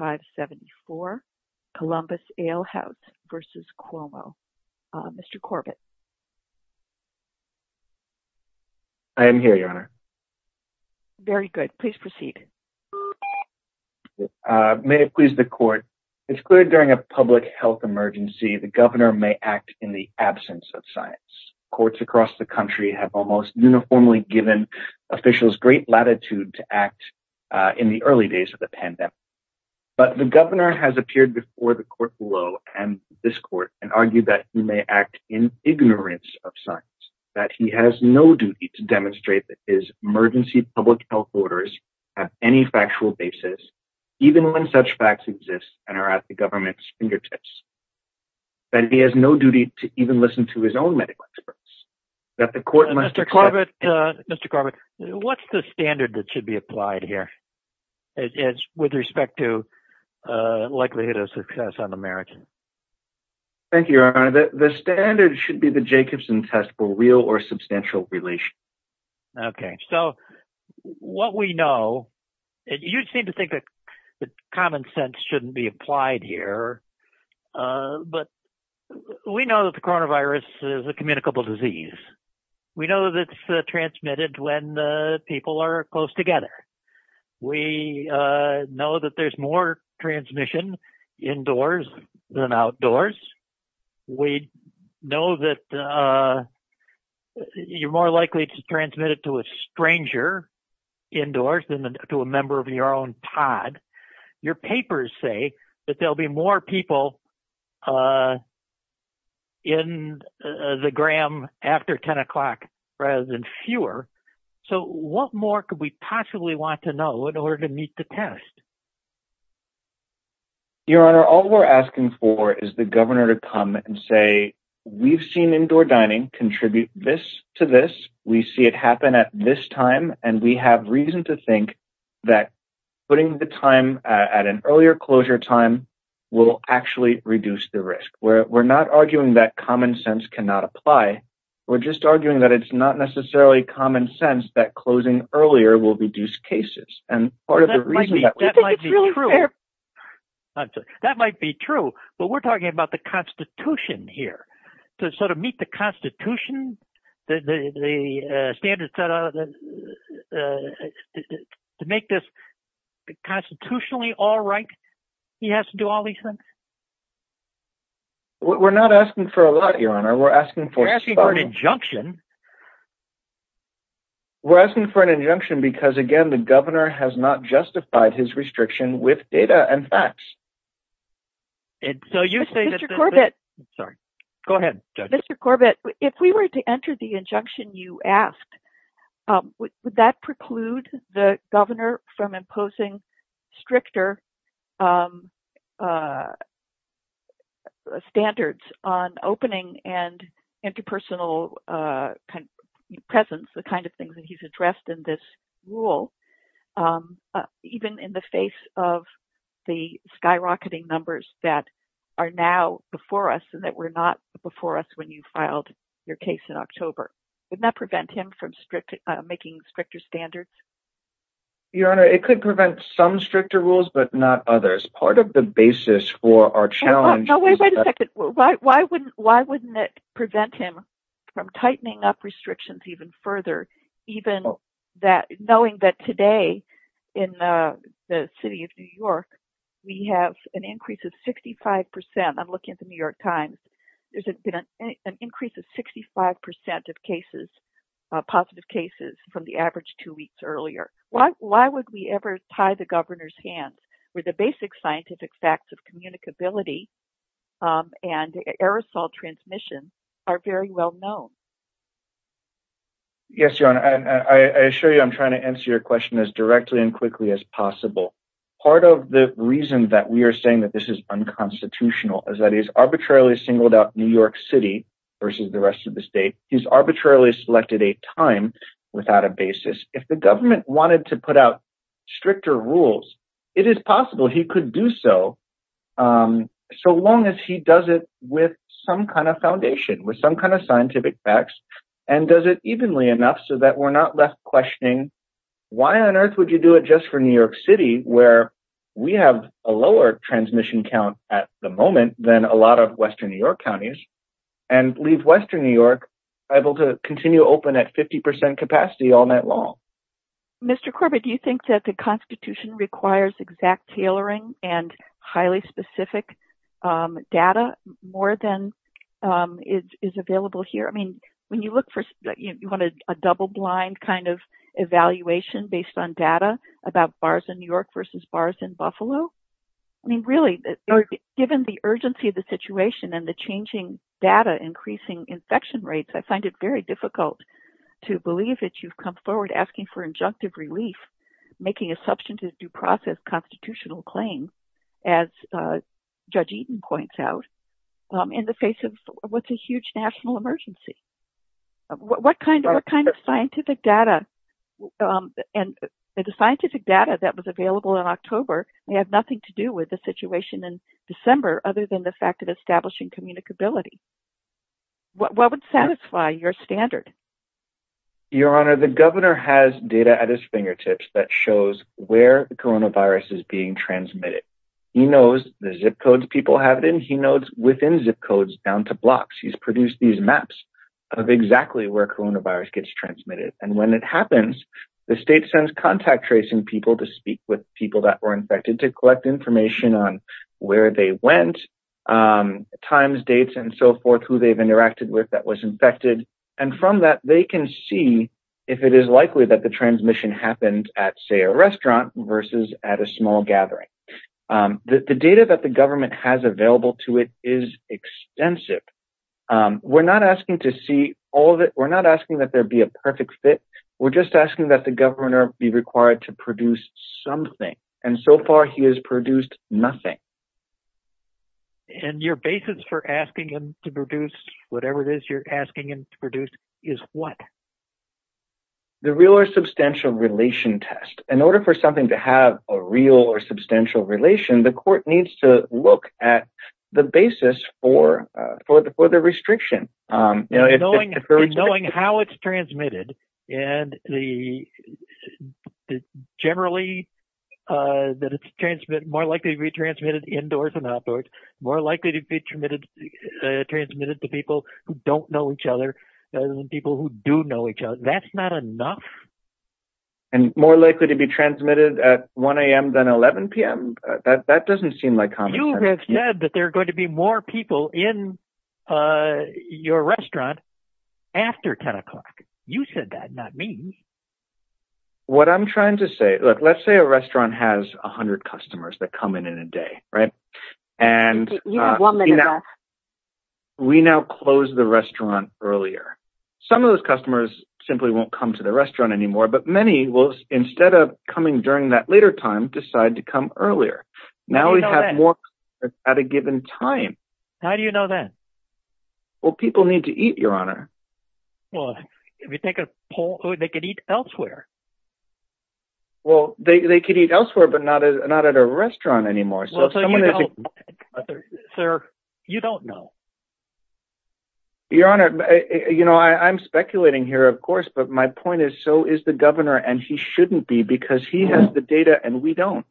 I am here, Your Honor. Very good. Please proceed. May it please the Court, it's clear during a public health emergency, the Governor may act in the absence of science. Courts across the country have almost uniformly given officials great latitude to act in the early days of the pandemic. But the Governor has appeared before the Court below and this Court and argued that he may act in ignorance of science, that he has no duty to demonstrate that his emergency public health orders have any factual basis, even when such facts exist and are at the government's fingertips, that he has no duty to even listen to his own medical experts, that the Court must accept... It's with respect to likelihood of success on the margin. Thank you, Your Honor. The standard should be the Jacobson test for real or substantial relation. Okay. So what we know, you seem to think that common sense shouldn't be applied here. But we know that the coronavirus is a communicable disease. We know that it's transmitted when people are close together. We know that there's more transmission indoors than outdoors. We know that you're more likely to transmit it to a stranger indoors than to a member of your own pod. Your papers say that there'll be more people in the gram after 10 o'clock rather than fewer. So what more could we possibly want to know in order to meet the test? Your Honor, all we're asking for is the governor to come and say, we've seen indoor dining contribute this to this. We see it happen at this time, and we have reason to think that putting the time at an earlier closure time will actually reduce the risk. We're not arguing that common sense cannot apply. We're just arguing that it's not necessarily common sense that closing earlier will reduce cases. And part of the reason that might be true, that might be true, but we're talking about the constitution here to sort of meet the constitution, the standards set out to make this constitutionally all right. He has to do all these things. We're not asking for a lot, Your Honor. We're asking for- We're asking for an injunction. We're asking for an injunction because again, the governor has not justified his restriction with data and facts. So you say- Mr. Corbett. Sorry. Go ahead, Judge. Mr. Corbett, if we were to enter the injunction you asked, would that preclude the governor from imposing stricter standards on opening and interpersonal presence, the kind of things that he's addressed in this rule, even in the face of the skyrocketing numbers that are now before us and that were not before us when you filed your case in October? Wouldn't that prevent him from making stricter standards? Your Honor, it could prevent some stricter rules, but not others. Part of the basis for our challenge- No, wait a second. Why wouldn't it prevent him from tightening up restrictions even further, even knowing that today in the city of New York, we have an increase of 65%- I'm looking at the New York Times- there's been an increase of 65% of positive cases from the average two weeks earlier. Why would we ever tie the governor's hands, where the basic scientific facts of communicability and aerosol transmission are very well known? Yes, Your Honor, I assure you I'm trying to answer your question as directly and quickly as possible. Part of the reason that we are saying that this is unconstitutional is that he's arbitrarily singled out New York City versus the rest of the state. He's arbitrarily selected a time without a basis. If the government wanted to put out stricter rules, it is possible he could do so, so long as he does it with some kind of foundation, with some kind of scientific facts, and does it evenly enough so that we're not left questioning, why on earth would you do it just for New York City, where we have a lower transmission count at the moment than a lot of Western New York counties, and leave Western New York able to continue open at 50% capacity all night long? Mr. Corbett, do you think that the Constitution requires exact tailoring and highly specific data more than is available here? I mean, when you look for, you want a double-blind kind of evaluation based on data about bars in New York versus bars in Buffalo? I mean, really, given the urgency of the situation and the changing data, increasing infection rates, I find it very difficult to believe that you've come forward asking for injunctive relief, making a substantive due process constitutional claim, as Judge Eaton points out, in the face of what's a huge national emergency. What kind of scientific data, and the scientific data that was available in October may have nothing to do with the situation in December, other than the fact of establishing communicability. What would satisfy your standard? Your Honor, the governor has data at his fingertips that shows where the coronavirus is being transmitted. He knows the zip codes people have it in, he knows within zip codes down to blocks. He's produced these maps of exactly where coronavirus gets transmitted. And when it happens, the state sends contact tracing people to speak with people that were who they've interacted with that was infected. And from that, they can see if it is likely that the transmission happens at, say, a restaurant versus at a small gathering. The data that the government has available to it is extensive. We're not asking to see all of it. We're not asking that there be a perfect fit. We're just asking that the governor be required to produce something. And so far, he has produced nothing. And your basis for asking him to produce whatever it is you're asking him to produce is what? The real or substantial relation test. In order for something to have a real or substantial relation, the court needs to look at the basis for the restriction. Knowing how it's transmitted and the generally that it's transmitted, more likely to be transmitted indoors and outdoors, more likely to be transmitted to people who don't know each other than people who do know each other. That's not enough. And more likely to be transmitted at 1 a.m. than 11 p.m.? That doesn't seem like common sense. You have said that there are going to be more people in your restaurant after 10 o'clock. You said that, not me. What I'm trying to say, look, let's say a restaurant has 100 customers that come in in a day, right? And we now close the restaurant earlier. Some of those customers simply won't come to the restaurant anymore, but many will, instead of coming during that later time, decide to come earlier. Now we have more customers at a given time. How do you know that? Well, people need to eat, Your Honor. Well, if you take a poll, they could eat elsewhere. Well, they could eat elsewhere, but not at a restaurant anymore. Sir, you don't know. Your Honor, you know, I'm speculating here, of course, but my point is, so is the governor, and he shouldn't be because he has the data and we don't.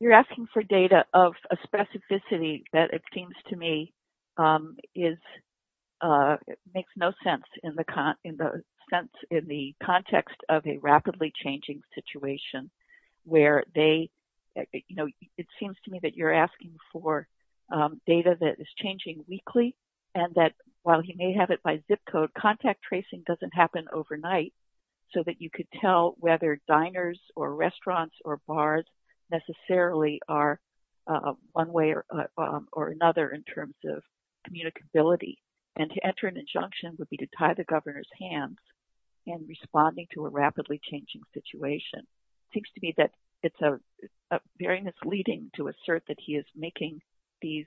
You're asking for data of a specificity that, it seems to me, makes no sense in the context of a rapidly changing situation, where they, you know, it seems to me that you're asking for data that is changing weekly, and that while he may have it by zip code, contact tracing doesn't happen overnight, so that you could tell whether diners or restaurants or bars necessarily are one way or another in terms of communicability. And to enter an injunction would be to tie the governor's hands in responding to a rapidly changing situation. It seems to me that it's very misleading to assert that he is making these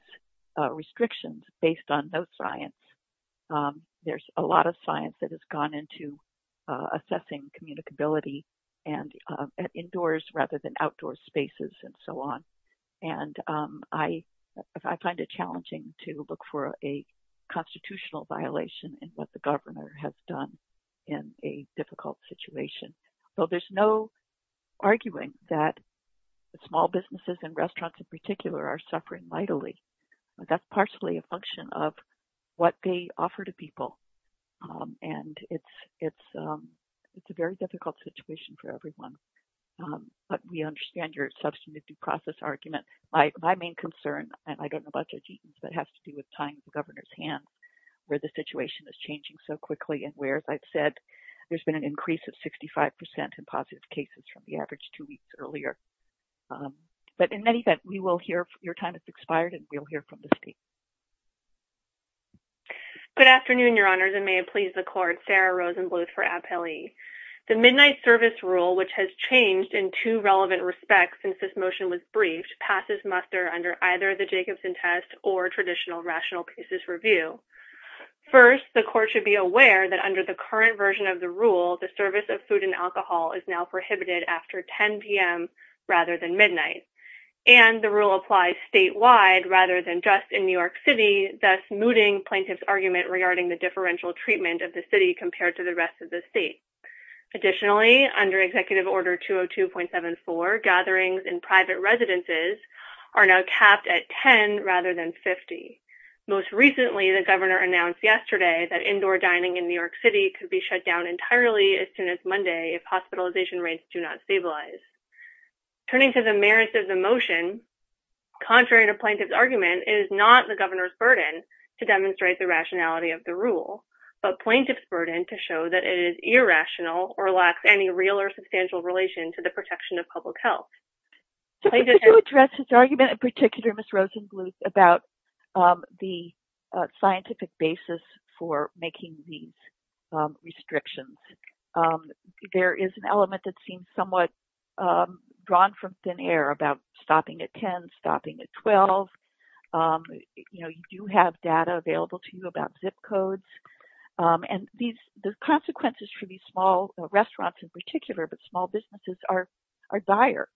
restrictions based on no science. There's a lot of science that has gone into assessing communicability and indoors rather than outdoor spaces and so on, and I find it challenging to look for a constitutional violation in what the governor has done in a difficult situation. So there's no arguing that small businesses and restaurants in particular are suffering vitally. That's partially a function of what they offer to people, and it's a very difficult situation for everyone. But we understand your substantive due process argument. My main concern, and I don't know about your team's, but it has to do with tying the governor's hands where the situation is changing so quickly and where, as I've said, there's been an increase of 65% in positive cases from the average two weeks earlier. But in any event, your time has expired, and we'll hear from the state. Good afternoon, Your Honors, and may it please the Court. Sarah Rosenbluth for Appellee. The Midnight Service Rule, which has changed in two relevant respects since this motion was briefed, passes muster under either the Jacobson test or traditional rational pieces review. First, the Court should be aware that under the current version of the rule, the And the rule applies statewide rather than just in New York City, thus mooting plaintiff's argument regarding the differential treatment of the city compared to the rest of the state. Additionally, under Executive Order 202.74, gatherings in private residences are now capped at 10 rather than 50. Most recently, the governor announced yesterday that indoor dining in New York City could be shut down entirely as soon as Monday if hospitalization rates do not stabilize. Turning to the merits of the motion, contrary to plaintiff's argument, it is not the governor's burden to demonstrate the rationality of the rule, but plaintiff's burden to show that it is irrational or lacks any real or substantial relation to the protection of public health. To address his argument in particular, Ms. Rosenbluth, about the scientific basis for making these restrictions, there is an element that seems somewhat drawn from thin air about stopping at 10, stopping at 12. You do have data available to you about zip codes. And the consequences for these small restaurants in particular, but small businesses, are dire.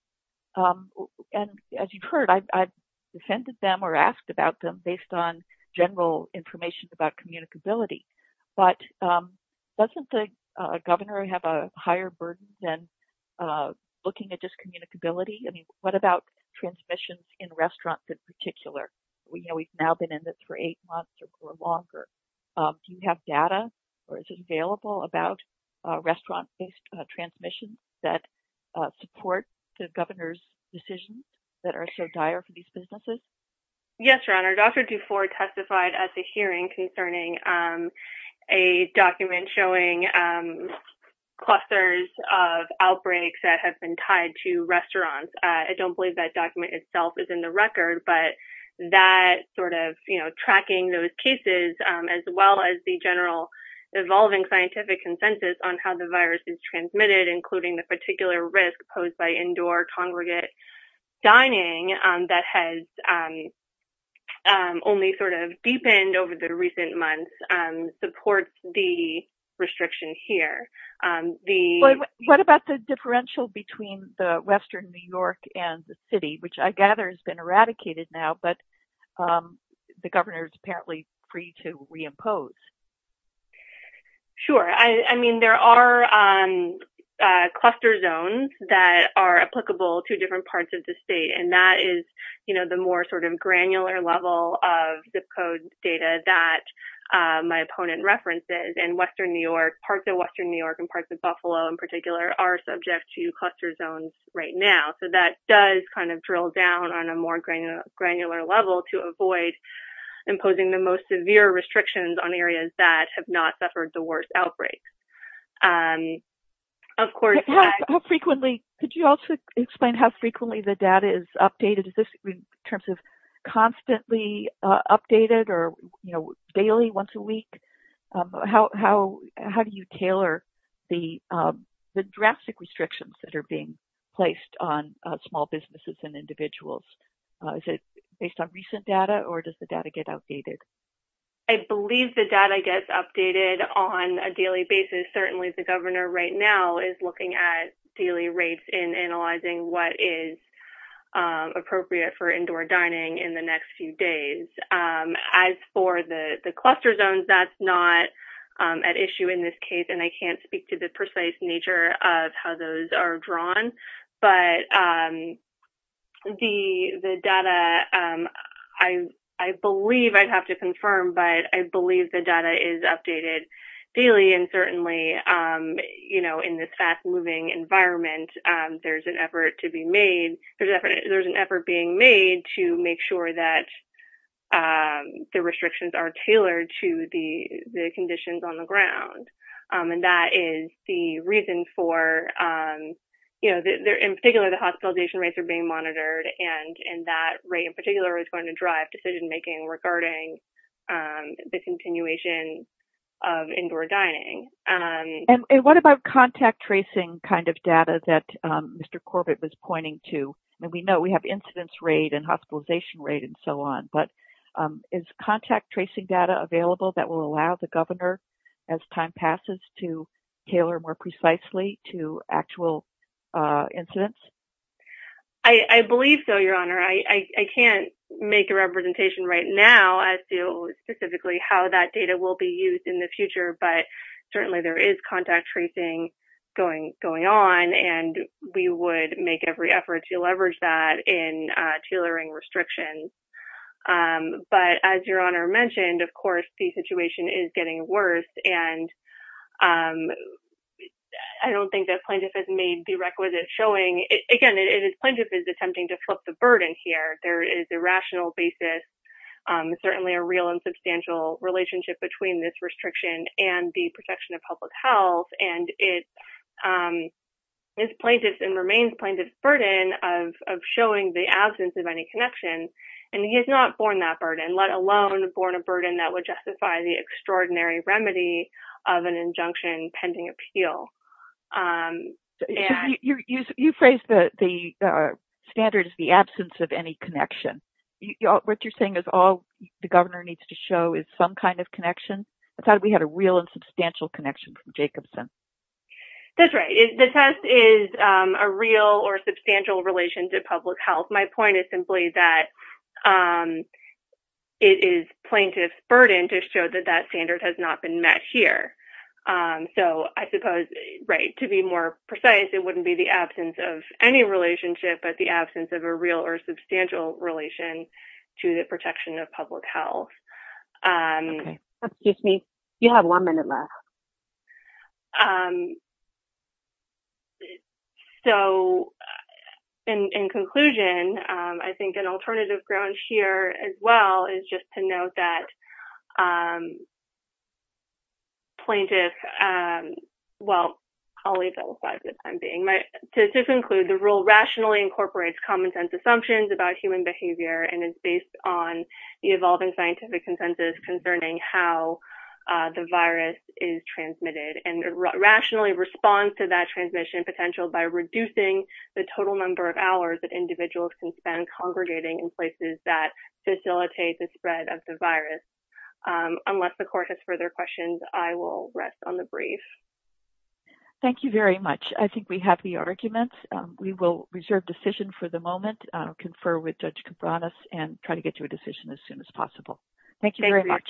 And as you've heard, I've defended them or asked about them based on general information about communicability. But doesn't the governor have a higher burden than looking at just communicability? I mean, what about transmissions in restaurants in particular? We know we've now been in this for eight months or longer. Do you have data or is it available about restaurant-based transmissions that support the governor's decisions that are so dire for these businesses? Yes, Your Honor. Dr. Dufour testified at the hearing concerning a document showing clusters of outbreaks that have been tied to restaurants. I don't believe that document itself is in the record, but that sort of, you know, tracking those cases as well as the general evolving scientific consensus on how the virus is transmitted, including the particular risk posed by only sort of deepened over the recent months, supports the restriction here. What about the differential between the western New York and the city, which I gather has been eradicated now, but the governor is apparently free to reimpose? Sure. I mean, there are cluster zones that are applicable to different parts of the state, and that is, you know, the more sort of granular level of zip code data that my opponent references, and western New York, parts of western New York and parts of Buffalo in particular are subject to cluster zones right now. So that does kind of drill down on a more granular level to avoid imposing the most severe restrictions on areas that have not suffered the worst outbreaks. Could you also explain how frequently the data is updated? Is this in terms of constantly updated or, you know, daily, once a week? How do you tailor the drastic restrictions that are being placed on small businesses and individuals? Is it based on recent data, or does the data get outdated? I believe the data gets updated on a daily basis. Certainly the governor right now is looking at daily rates and analyzing what is appropriate for indoor dining in the next few days. As for the cluster zones, that's not at issue in this case, and I can't speak to the precise nature of how those are drawn. But the data, I believe, I'd have to confirm, but I believe the data is updated daily, and certainly, you know, in this fast-moving environment, there's an effort to be made, there's an effort being made to make sure that the restrictions are And that is the reason for, you know, in particular, the hospitalization rates are being monitored, and that rate in particular is going to drive decision-making regarding the continuation of indoor dining. And what about contact tracing kind of data that Mr. Corbett was pointing to? I mean, we know we have incidence rate and hospitalization rate and so on, but is tailor more precisely to actual incidence? I believe so, Your Honor. I can't make a representation right now as to specifically how that data will be used in the future, but certainly there is contact tracing going on, and we would make every effort to leverage that in tailoring restrictions. But as Your Honor mentioned, of course, the situation is getting worse, and I don't think the plaintiff has made the requisite showing. Again, the plaintiff is attempting to flip the burden here. There is a rational basis, certainly a real and substantial relationship between this restriction and the protection of public health, and it is plaintiff's and he has not borne that burden, let alone borne a burden that would justify the extraordinary remedy of an injunction pending appeal. You phrased the standard as the absence of any connection. What you're saying is all the governor needs to show is some kind of connection? I thought we had a real and substantial connection from Jacobson. That's right. The test is a real or substantial relation to public health. My point is simply that it is plaintiff's burden to show that that standard has not been met here. So I suppose, right, to be more precise, it wouldn't be the absence of any relationship, but the absence of a real or substantial relation to the protection of public health. Okay. Excuse me. You have one minute left. So in conclusion, I think an alternative ground here as well is just to note that plaintiff, well, I'll leave that aside for the time being. To conclude, the rule rationally incorporates common-sense assumptions about human behavior and is based on the evolving scientific consensus concerning how the virus is transmitted and rationally responds to that transmission potential by reducing the total number of hours that individuals can spend congregating in places that facilitate the spread of the virus. Unless the court has further questions, I will rest on the brief. Thank you very much. I think we have the arguments. We will reserve decision for the moment, confer with Judge Cabranes, and try to get to a decision as soon as possible. Thank you very much. Thank you.